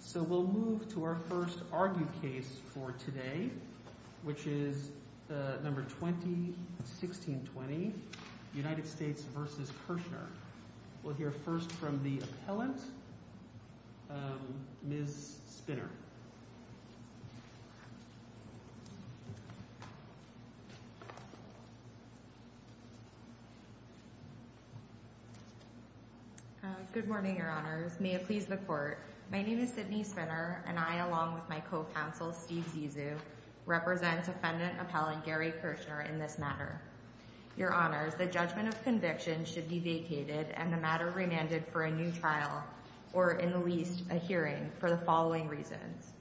So we'll move to our first argued case for today, which is the number 2016-20, United States v. Kershner. We'll hear first from the appellant, Ms. Spinner. Good morning, Your Honors. May it please the Court. My name is Sydney Spinner, and I, along with my co-counsel, Steve Zizou, represent defendant appellant Gary Kershner in this matter. Your Honors, the judgment of conviction should be vacated and the matter remanded for a new trial, or in the least, a hearing, for the following reasons.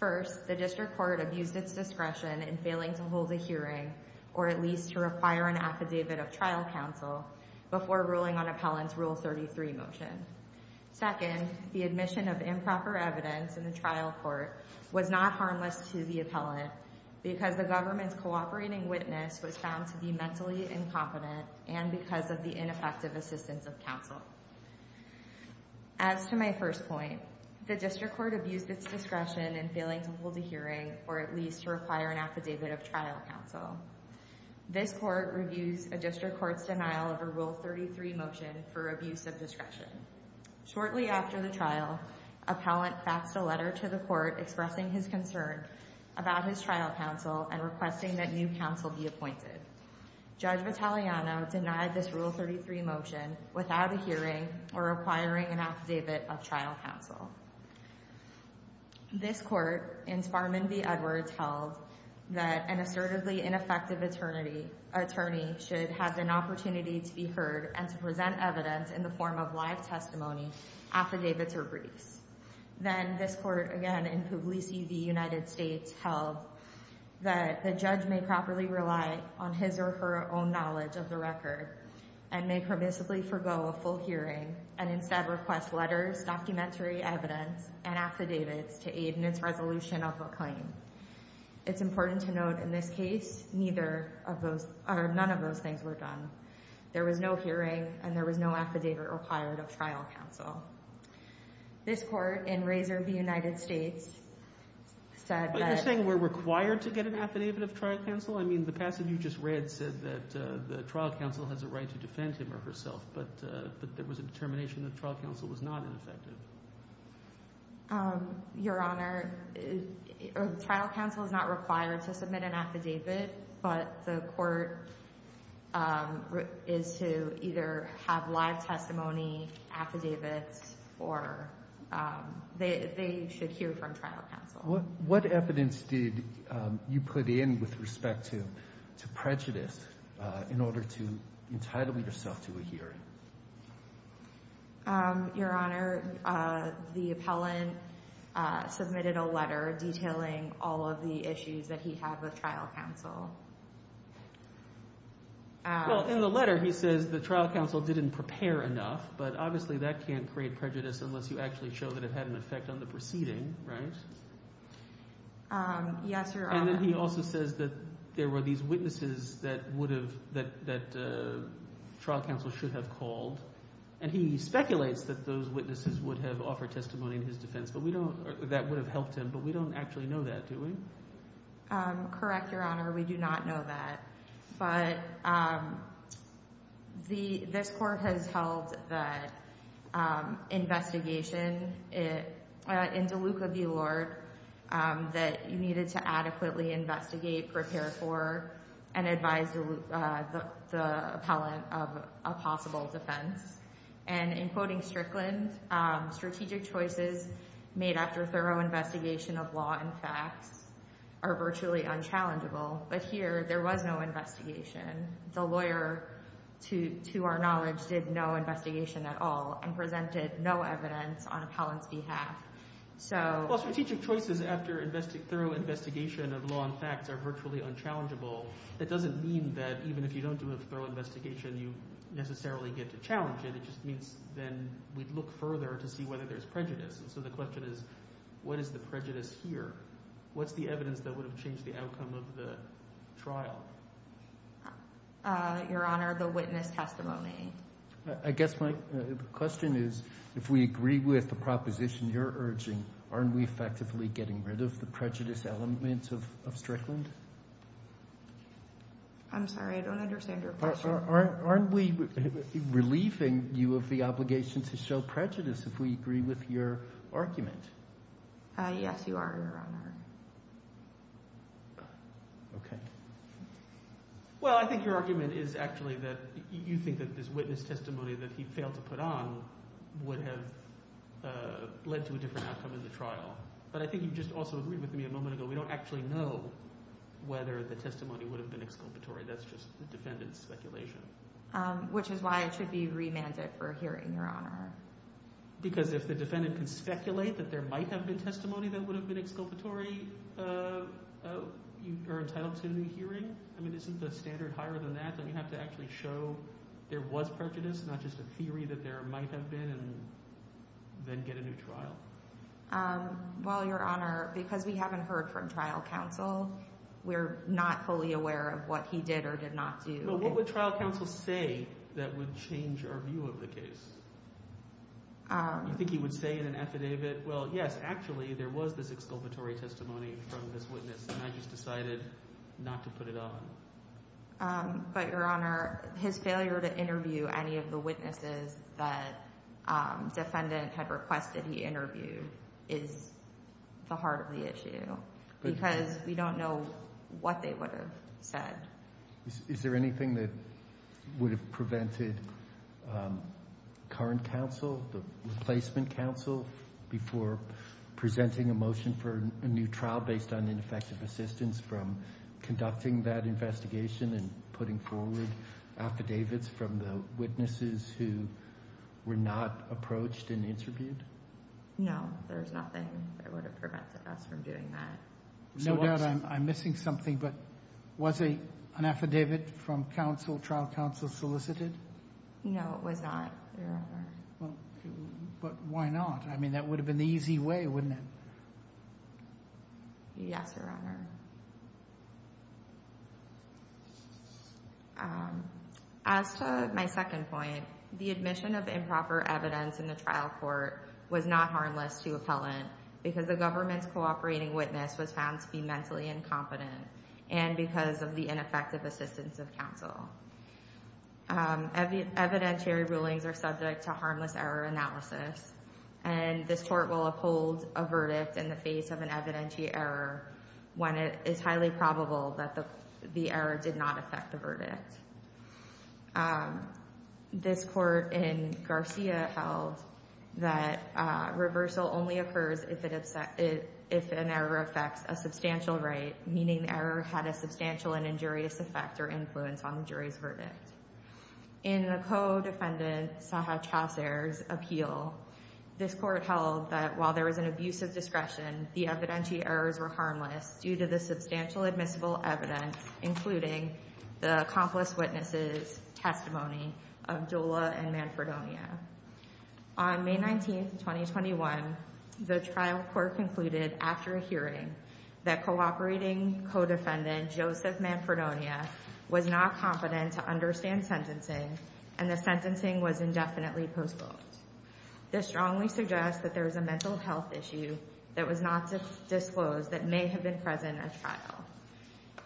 First, the District Court abused its discretion in failing to hold a hearing, or at least to require an affidavit of trial counsel, before ruling on appellant's Rule 33 motion. Second, the admission of improper evidence in the trial court was not harmless to the appellant because the government's cooperating witness was found to be mentally incompetent and because of the ineffective assistance of counsel. As to my first point, the District Court abused its discretion in failing to hold a hearing, or at least to require an affidavit of trial counsel. This Court reviews a District Court's denial of a Rule 33 motion for abuse of discretion. Shortly after the trial, appellant faxed a letter to the Court expressing his concern about his trial counsel and requesting that new counsel be appointed. Judge Vitaliano denied this Rule 33 motion without a hearing or requiring an affidavit of trial counsel. This Court, in Sparman v. Edwards, held that an assertively ineffective attorney should have an opportunity to be heard and to present evidence in the form of live testimony, affidavits, or briefs. Then, this Court, again in Puglisi v. United States, held that the judge may properly rely on his or her own knowledge of the record and may permissibly forego a full hearing and instead request letters, documentary evidence, and affidavits to aid in its resolution of a claim. It's important to note, in this case, none of those things were done. There was no hearing and there was no affidavit required of trial counsel. This Court, in Razor v. United States, said that… Are you saying we're required to get an affidavit of trial counsel? I mean, the passage you just read said that the trial counsel has a right to defend him or herself, but there was a determination that trial counsel was not ineffective. Your Honor, trial counsel is not required to submit an affidavit, but the Court is to either have live testimony, affidavits, or they should hear from trial counsel. What evidence did you put in with respect to prejudice in order to entitle yourself to a hearing? Your Honor, the appellant submitted a letter detailing all of the issues that he had with trial counsel. Well, in the letter he says the trial counsel didn't prepare enough, but obviously that can't create prejudice unless you actually show that it had an effect on the proceeding, right? Yes, Your Honor. And then he also says that there were these witnesses that trial counsel should have called, and he speculates that those witnesses would have offered testimony in his defense. That would have helped him, but we don't actually know that, do we? Correct, Your Honor, we do not know that. But this Court has held that investigation in DeLuca v. Lord that you needed to adequately investigate, prepare for, and advise the appellant of a possible defense. And in quoting Strickland, strategic choices made after thorough investigation of law and facts are virtually unchallengeable. But here, there was no investigation. The lawyer, to our knowledge, did no investigation at all and presented no evidence on appellant's behalf. Well, strategic choices after thorough investigation of law and facts are virtually unchallengeable. That doesn't mean that even if you don't do a thorough investigation, you necessarily get to challenge it. It just means then we'd look further to see whether there's prejudice. And so the question is, what is the prejudice here? What's the evidence that would have changed the outcome of the trial? Your Honor, the witness testimony. I guess my question is, if we agree with the proposition you're urging, aren't we effectively getting rid of the prejudice element of Strickland? I'm sorry, I don't understand your question. Aren't we relieving you of the obligation to show prejudice if we agree with your argument? Yes, you are, Your Honor. Okay. Well, I think your argument is actually that you think that this witness testimony that he failed to put on would have led to a different outcome in the trial. But I think you just also agreed with me a moment ago, we don't actually know whether the testimony would have been exculpatory. That's just the defendant's speculation. Which is why it should be remanded for hearing, Your Honor. Because if the defendant can speculate that there might have been testimony that would have been exculpatory, you are entitled to a new hearing? I mean, isn't the standard higher than that? Don't you have to actually show there was prejudice, not just a theory that there might have been, and then get a new trial? Well, Your Honor, because we haven't heard from trial counsel, we're not fully aware of what he did or did not do. But what would trial counsel say that would change our view of the case? Do you think he would say in an affidavit, well, yes, actually, there was this exculpatory testimony from this witness, and I just decided not to put it on? But, Your Honor, his failure to interview any of the witnesses that the defendant had requested he interview is the heart of the issue. Because we don't know what they would have said. Is there anything that would have prevented current counsel, the replacement counsel, before presenting a motion for a new trial based on ineffective assistance from conducting that investigation and putting forward affidavits from the witnesses who were not approached and interviewed? No, there's nothing that would have prevented us from doing that. No doubt I'm missing something, but was an affidavit from trial counsel solicited? No, it was not, Your Honor. But why not? I mean, that would have been the easy way, wouldn't it? Yes, Your Honor. As to my second point, the admission of improper evidence in the trial court was not harmless to appellant because the government's cooperating witness was found to be mentally incompetent and because of the ineffective assistance of counsel. Evidentiary rulings are subject to harmless error analysis, and this court will uphold a verdict in the face of an evidentiary error when it is highly probable that the error did not affect the verdict. This court in Garcia held that reversal only occurs if an error affects a substantial right, meaning the error had a substantial and injurious effect or influence on the jury's verdict. In the co-defendant, Saha Chauser's, appeal, this court held that while there was an abusive discretion, the evidentiary errors were harmless due to the substantial admissible evidence, including the accomplice witness's testimony of Jola and Manfredonia. On May 19, 2021, the trial court concluded after a hearing that cooperating co-defendant, Joseph Manfredonia, was not competent to understand sentencing and the sentencing was indefinitely postponed. This strongly suggests that there is a mental health issue that was not disclosed that may have been present at trial.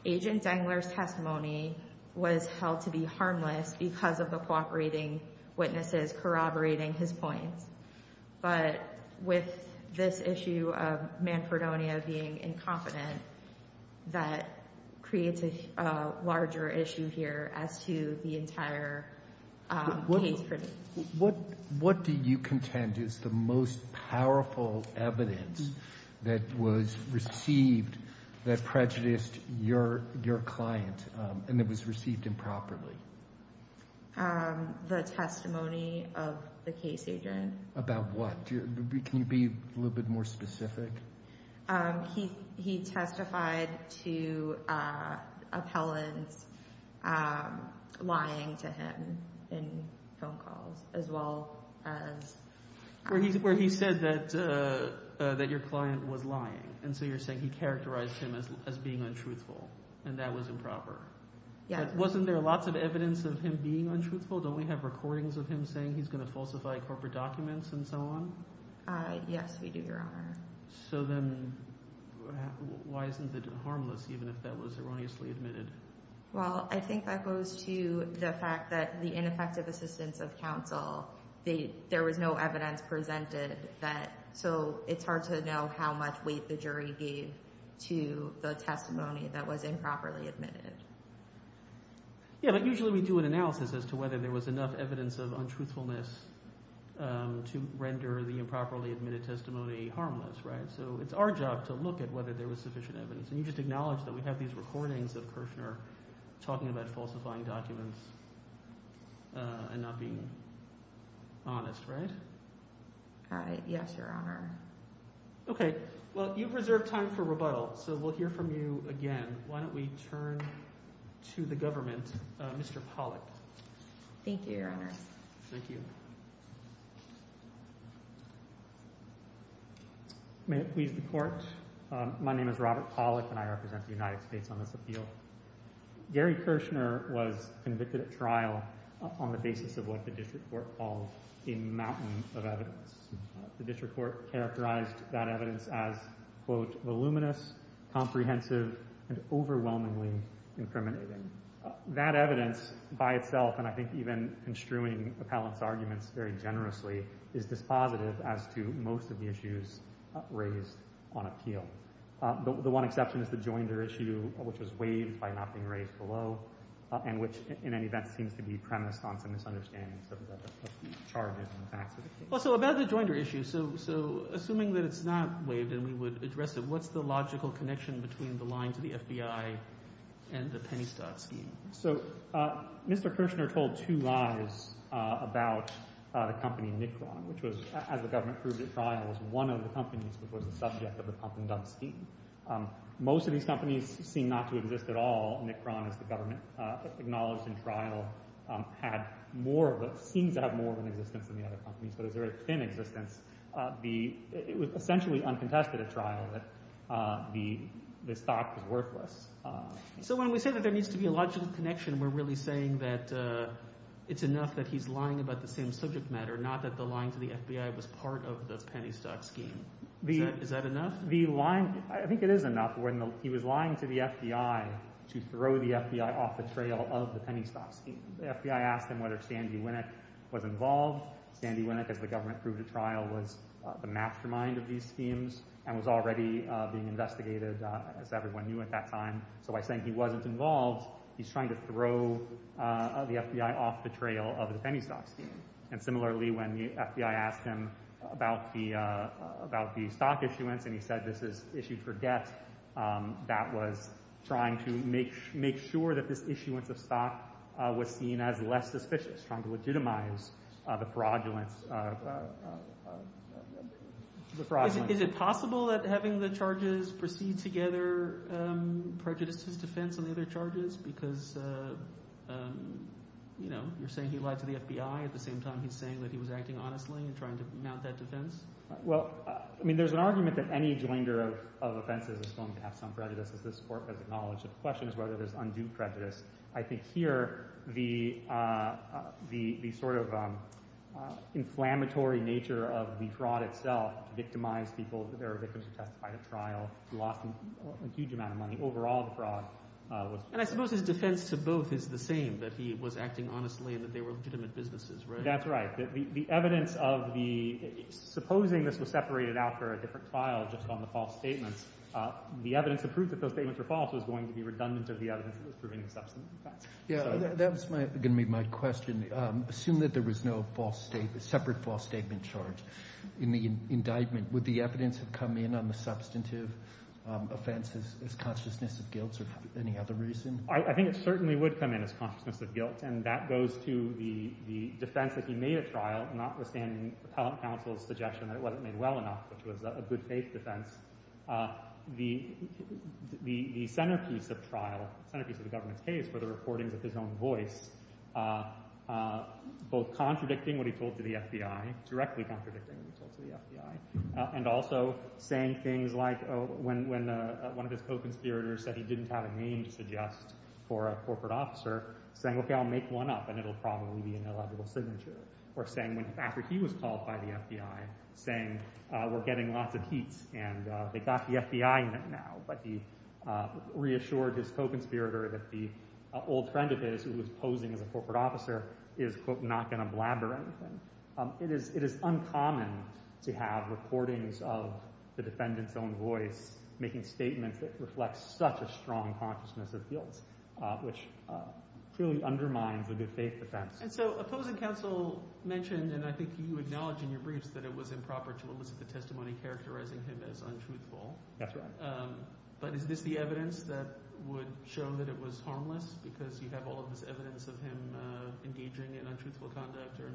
Agent Dengler's testimony was held to be harmless because of the cooperating witnesses corroborating his points, but with this issue of Manfredonia being incompetent, that creates a larger issue here as to the entire case. What do you contend is the most powerful evidence that was received that prejudiced your client and that was received improperly? The testimony of the case agent. About what? Can you be a little bit more specific? He testified to appellants lying to him in phone calls, as well as— Where he said that your client was lying, and so you're saying he characterized him as being untruthful, and that was improper. Wasn't there lots of evidence of him being untruthful? Don't we have recordings of him saying he's going to falsify corporate documents and so on? Yes, we do, Your Honor. So then why isn't it harmless, even if that was erroneously admitted? Well, I think that goes to the fact that the ineffective assistance of counsel, there was no evidence presented, so it's hard to know how much weight the jury gave to the testimony that was improperly admitted. Yeah, but usually we do an analysis as to whether there was enough evidence of untruthfulness to render the improperly admitted testimony harmless, right? So it's our job to look at whether there was sufficient evidence, and you just acknowledged that we have these recordings of Kirshner talking about falsifying documents and not being honest, right? All right. Yes, Your Honor. Okay. Well, you've reserved time for rebuttal, so we'll hear from you again. Why don't we turn to the government, Mr. Pollack. Thank you, Your Honor. Thank you. May it please the Court. My name is Robert Pollack, and I represent the United States on this appeal. Gary Kirshner was convicted at trial on the basis of what the district court called a mountain of evidence. The district court characterized that evidence as, quote, voluminous, comprehensive, and overwhelmingly incriminating. That evidence by itself, and I think even construing Appellant's arguments very generously, is dispositive as to most of the issues raised on appeal. The one exception is the Joinder issue, which was waived by not being raised below, and which, in any event, seems to be premised on some misunderstandings of the charges and facts of the case. Well, so about the Joinder issue, so assuming that it's not waived and we would address it, what's the logical connection between the line to the FBI and the penny stock scheme? So Mr. Kirshner told two lies about a company, Nikron, which was, as the government proved at trial, was one of the companies which was the subject of the pump-and-dump scheme. Most of these companies seem not to exist at all. Nikron, as the government acknowledged in trial, had more of a – seems to have more of an existence than the other companies, but is very thin in existence. It was essentially uncontested at trial that the stock was worthless. So when we say that there needs to be a logical connection, we're really saying that it's enough that he's lying about the same subject matter, not that the line to the FBI was part of the penny stock scheme. Is that enough? I think it is enough when he was lying to the FBI to throw the FBI off the trail of the penny stock scheme. The FBI asked him whether Sandy Winnick was involved. Sandy Winnick, as the government proved at trial, was the mastermind of these schemes and was already being investigated, as everyone knew at that time. So by saying he wasn't involved, he's trying to throw the FBI off the trail of the penny stock scheme. And similarly, when the FBI asked him about the stock issuance and he said this is issued for debt, that was trying to make sure that this issuance of stock was seen as less suspicious, trying to legitimize the fraudulence. Is it possible that having the charges proceed together prejudices defense on the other charges because you're saying he lied to the FBI at the same time he's saying that he was acting honestly and trying to mount that defense? Well, I mean there's an argument that any joinder of offenses is going to have some prejudice, as this court has acknowledged. The question is whether there's undue prejudice. I think here the sort of inflammatory nature of the fraud itself victimized people. There are victims who testified at trial who lost a huge amount of money. Overall, the fraud was— And I suppose his defense to both is the same, that he was acting honestly and that they were legitimate businesses, right? That's right. The evidence of the—supposing this was separated out for a different trial just on the false statements, the evidence that proved that those statements were false was going to be redundant of the evidence that was proving the substantive offense. Yeah, that was going to be my question. Assume that there was no false—separate false statement charge in the indictment. Would the evidence have come in on the substantive offenses as consciousness of guilt or any other reason? I think it certainly would come in as consciousness of guilt, and that goes to the defense that he made at trial, notwithstanding appellant counsel's suggestion that it wasn't made well enough, which was a good faith defense. The centerpiece of trial, the centerpiece of the government's case, were the recordings of his own voice, both contradicting what he told to the FBI, directly contradicting what he told to the FBI, and also saying things like when one of his co-conspirators said he didn't have a name to suggest for a corporate officer, saying, okay, I'll make one up and it'll probably be an illegible signature, or saying after he was called by the FBI, saying we're getting lots of heat and they got the FBI in it now, but he reassured his co-conspirator that the old friend of his who was posing as a corporate officer is, quote, not going to blab or anything. It is uncommon to have recordings of the defendant's own voice making statements that reflect such a strong consciousness of guilt, which truly undermines a good faith defense. And so opposing counsel mentioned, and I think you acknowledged in your briefs, that it was improper to elicit the testimony characterizing him as untruthful. That's right. But is this the evidence that would show that it was harmless because you have all of this evidence of him engaging in untruthful conduct or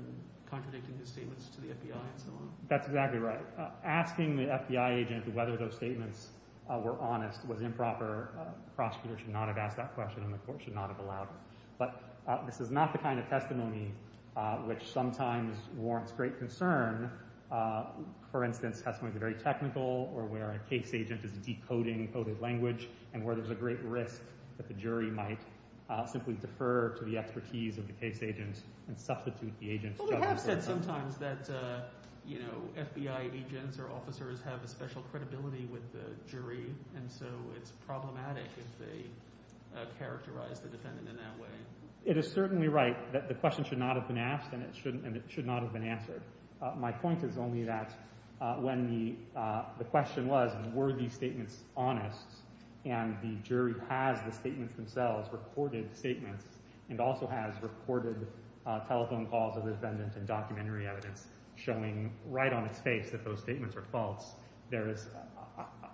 contradicting his statements to the FBI and so on? That's exactly right. Asking the FBI agent whether those statements were honest was improper. The prosecutor should not have asked that question and the court should not have allowed it. But this is not the kind of testimony which sometimes warrants great concern. For instance, testimony that's very technical or where a case agent is decoding coded language and where there's a great risk that the jury might simply defer to the expertise of the case agent and substitute the agent. We have said sometimes that FBI agents or officers have a special credibility with the jury and so it's problematic if they characterize the defendant in that way. It is certainly right that the question should not have been asked and it should not have been answered. My point is only that when the question was were these statements honest and the jury has the statements themselves, recorded statements, and also has recorded telephone calls of the defendant and documentary evidence showing right on its face that those statements are false.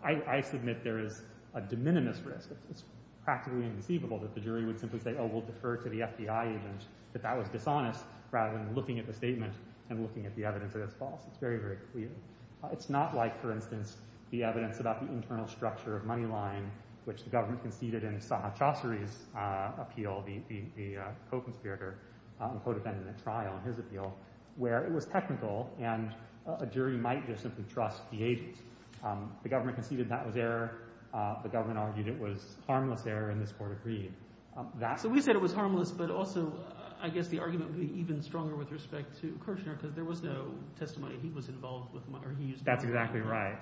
I submit there is a de minimis risk. It's practically inconceivable that the jury would simply say, oh, we'll defer to the FBI agent, that that was dishonest, rather than looking at the statement and looking at the evidence that it's false. It's very, very clear. It's not like, for instance, the evidence about the internal structure of Moneyline, which the government conceded in Sahar Chassery's appeal, the co-conspirator and co-defendant at trial in his appeal, where it was technical and a jury might just simply trust the agent. The government conceded that was error. The government argued it was harmless error, and this court agreed. So we said it was harmless, but also I guess the argument would be even stronger with respect to Kirchner because there was no testimony he was involved with. That's exactly right.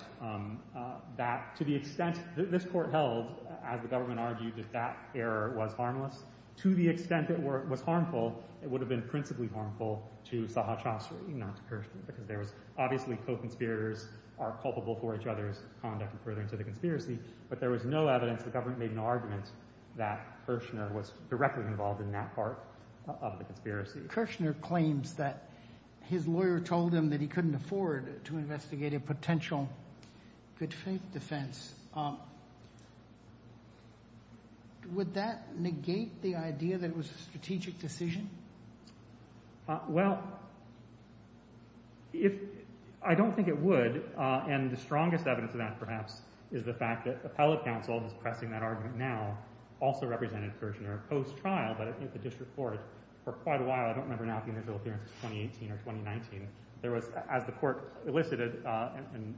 Kirchner claims that his lawyer told him that he couldn't afford to investigate a potential conspiracy. Good faith defense. Would that negate the idea that it was a strategic decision? Well, I don't think it would. And the strongest evidence of that, perhaps, is the fact that appellate counsel, who's pressing that argument now, also represented Kirchner post-trial, but at the district court for quite a while. I don't remember now being his real appearance in 2018 or 2019. As the court elicited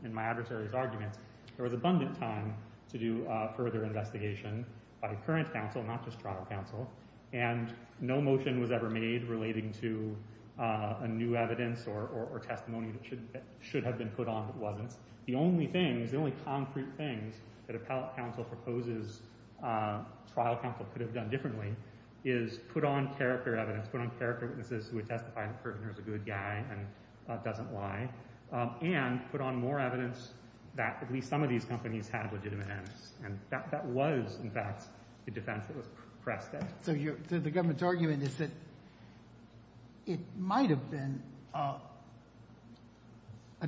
in my adversary's arguments, there was abundant time to do further investigation by current counsel, not just trial counsel, and no motion was ever made relating to a new evidence or testimony that should have been put on but wasn't. The only things, the only concrete things that appellate counsel proposes trial counsel could have done differently is put on character evidence, put on character witnesses who would testify that Kirchner is a good guy and doesn't lie, and put on more evidence that at least some of these companies have legitimate evidence. And that was, in fact, the defense that was pressed at. So the government's argument is that it might have been a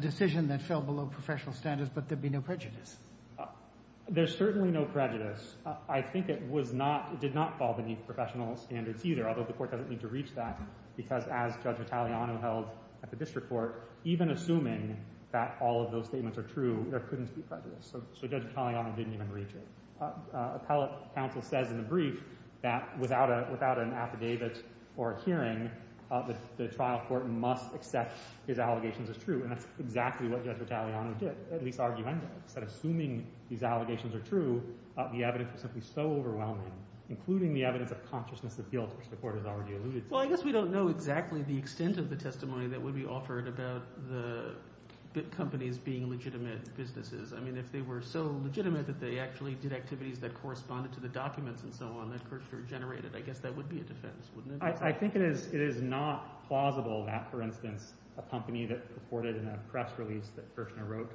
decision that fell below professional standards, but there'd be no prejudice. There's certainly no prejudice. I think it did not fall beneath professional standards either, although the court doesn't need to reach that, because as Judge Italiano held at the district court, even assuming that all of those statements are true, there couldn't be prejudice. So Judge Italiano didn't even reach it. Appellate counsel says in the brief that without an affidavit or a hearing, the trial court must accept these allegations as true. And that's exactly what Judge Italiano did, at least argumentatively. Instead of assuming these allegations are true, the evidence was simply so overwhelming, including the evidence of consciousness of guilt, which the court has already alluded to. Well, I guess we don't know exactly the extent of the testimony that would be offered about the companies being legitimate businesses. I mean, if they were so legitimate that they actually did activities that corresponded to the documents and so on that Kirchner generated, I guess that would be a defense, wouldn't it? I think it is not plausible that, for instance, a company that purported in a press release that Kirchner wrote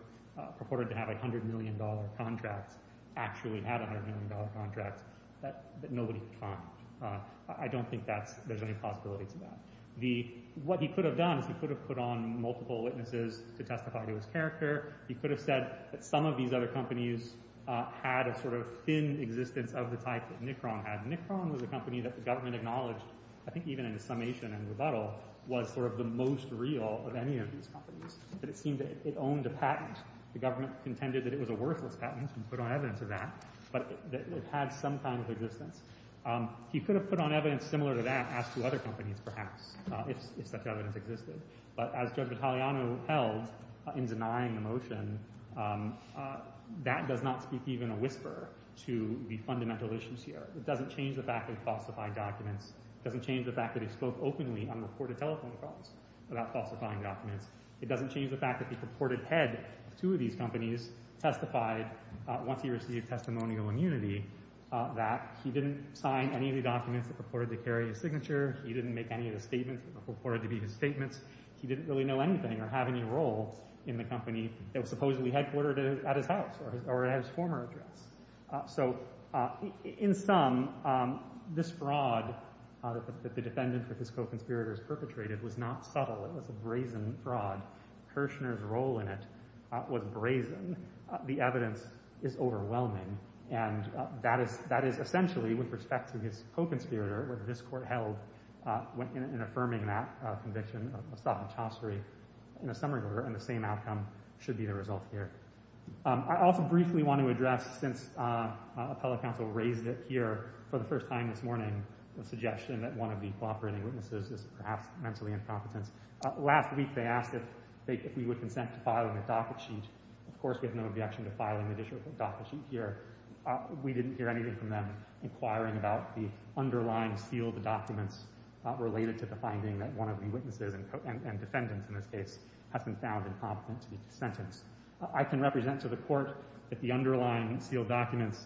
purported to have $100 million contracts actually had $100 million contracts that nobody could find. I don't think there's any possibility to that. What he could have done is he could have put on multiple witnesses to testify to his character. He could have said that some of these other companies had a sort of thin existence of the type that Nikron had. Nikron was a company that the government acknowledged, I think even in the summation and rebuttal, was sort of the most real of any of these companies. But it seemed that it owned a patent. The government contended that it was a worthless patent and put on evidence of that, but that it had some kind of existence. He could have put on evidence similar to that as to other companies, perhaps, if such evidence existed. But as Judge Vitaliano held in denying the motion, that does not speak even a whisper to the fundamental issues here. It doesn't change the fact that he falsified documents. It doesn't change the fact that he spoke openly on reported telephone calls about falsifying documents. It doesn't change the fact that the purported head of two of these companies testified, once he received testimonial immunity, that he didn't sign any of the documents that purported to carry his signature. He didn't make any of the statements that were purported to be his statements. He didn't really know anything or have any role in the company that was supposedly headquartered at his house or at his former address. So, in sum, this fraud that the defendant with his co-conspirators perpetrated was not subtle. It was a brazen fraud. Kirshner's role in it was brazen. The evidence is overwhelming. And that is essentially, with respect to his co-conspirator, what this Court held in affirming that conviction, a stop at chaucery, in a summary order, and the same outcome should be the result here. I also briefly want to address, since appellate counsel raised it here for the first time this morning, the suggestion that one of the cooperating witnesses is perhaps mentally incompetent. Last week, they asked if we would consent to filing a docket sheet. Of course, we have no objection to filing an additional docket sheet here. We didn't hear anything from them inquiring about the underlying seal of the documents related to the finding that one of the witnesses, and defendants in this case, has been found incompetent to be sentenced. I can represent to the Court that the underlying sealed documents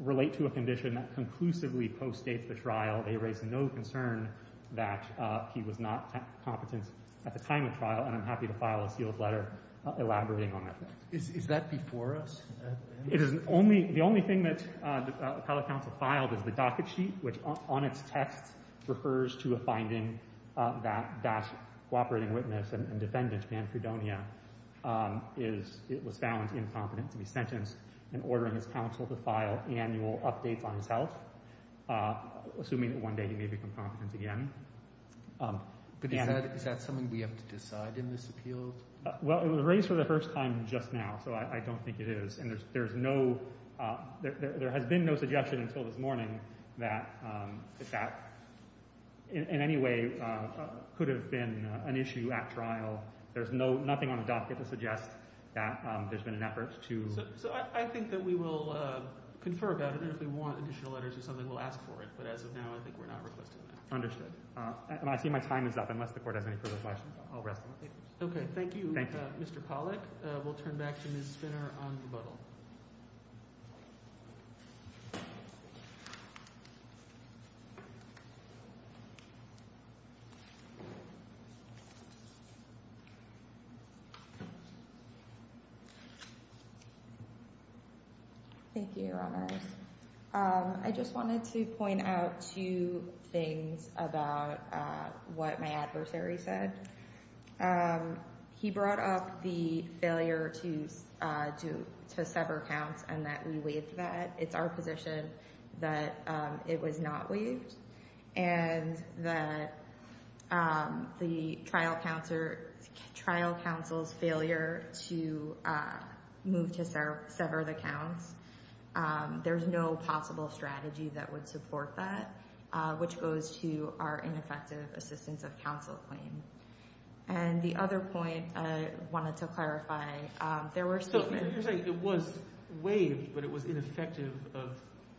relate to a condition that conclusively postdates the trial. They raise no concern that he was not competent at the time of trial, and I'm happy to file a sealed letter elaborating on that. Is that before us? The only thing that appellate counsel filed is the docket sheet, which on its text refers to a finding that that cooperating witness and defendant, Dan Fredonia, was found incompetent to be sentenced and ordering his counsel to file annual updates on his health, assuming that one day he may become competent again. But is that something we have to decide in this appeal? Well, it was raised for the first time just now, so I don't think it is. And there has been no suggestion until this morning that that in any way could have been an issue at trial. There's nothing on the docket to suggest that there's been an effort to— So I think that we will confer about it, and if we want additional letters or something, we'll ask for it. But as of now, I think we're not requesting that. Understood. I see my time is up, unless the Court has any further questions. I'll rest. Okay, thank you, Mr. Pollack. We'll turn back to Ms. Spinner on rebuttal. Thank you, Your Honors. I just wanted to point out two things about what my adversary said. He brought up the failure to sever counts and that we waived that. It's our position that it was not waived. And that the trial counsel's failure to move to sever the counts, there's no possible strategy that would support that, which goes to our ineffective assistance of counsel claim. And the other point I wanted to clarify, there were statements— So you're saying it was waived, but it was ineffective of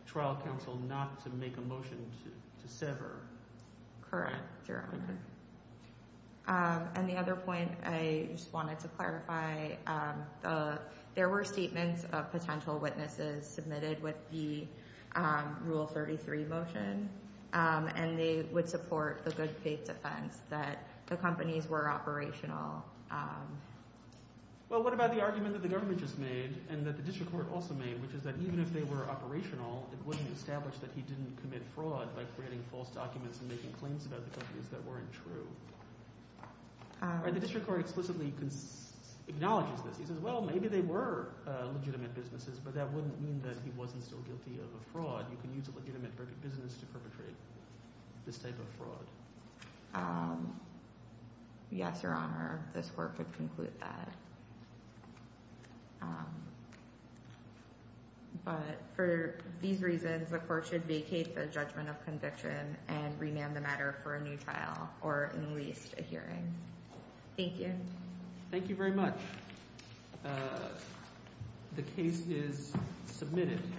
trial counsel not to make a motion to sever. Correct, Your Honor. And the other point I just wanted to clarify, there were statements of potential witnesses submitted with the Rule 33 motion. And they would support the good faith defense that the companies were operational. Well, what about the argument that the government just made and that the district court also made, which is that even if they were operational, it wouldn't establish that he didn't commit fraud by creating false documents and making claims about the companies that weren't true. The district court explicitly acknowledges this. He says, well, maybe they were legitimate businesses, but that wouldn't mean that he wasn't still guilty of a fraud. You can use a legitimate business to perpetrate this type of fraud. Yes, Your Honor, this Court would conclude that. But for these reasons, the Court should vacate the judgment of conviction and remand the matter for a new trial or at least a hearing. Thank you. Thank you very much. The case is submitted.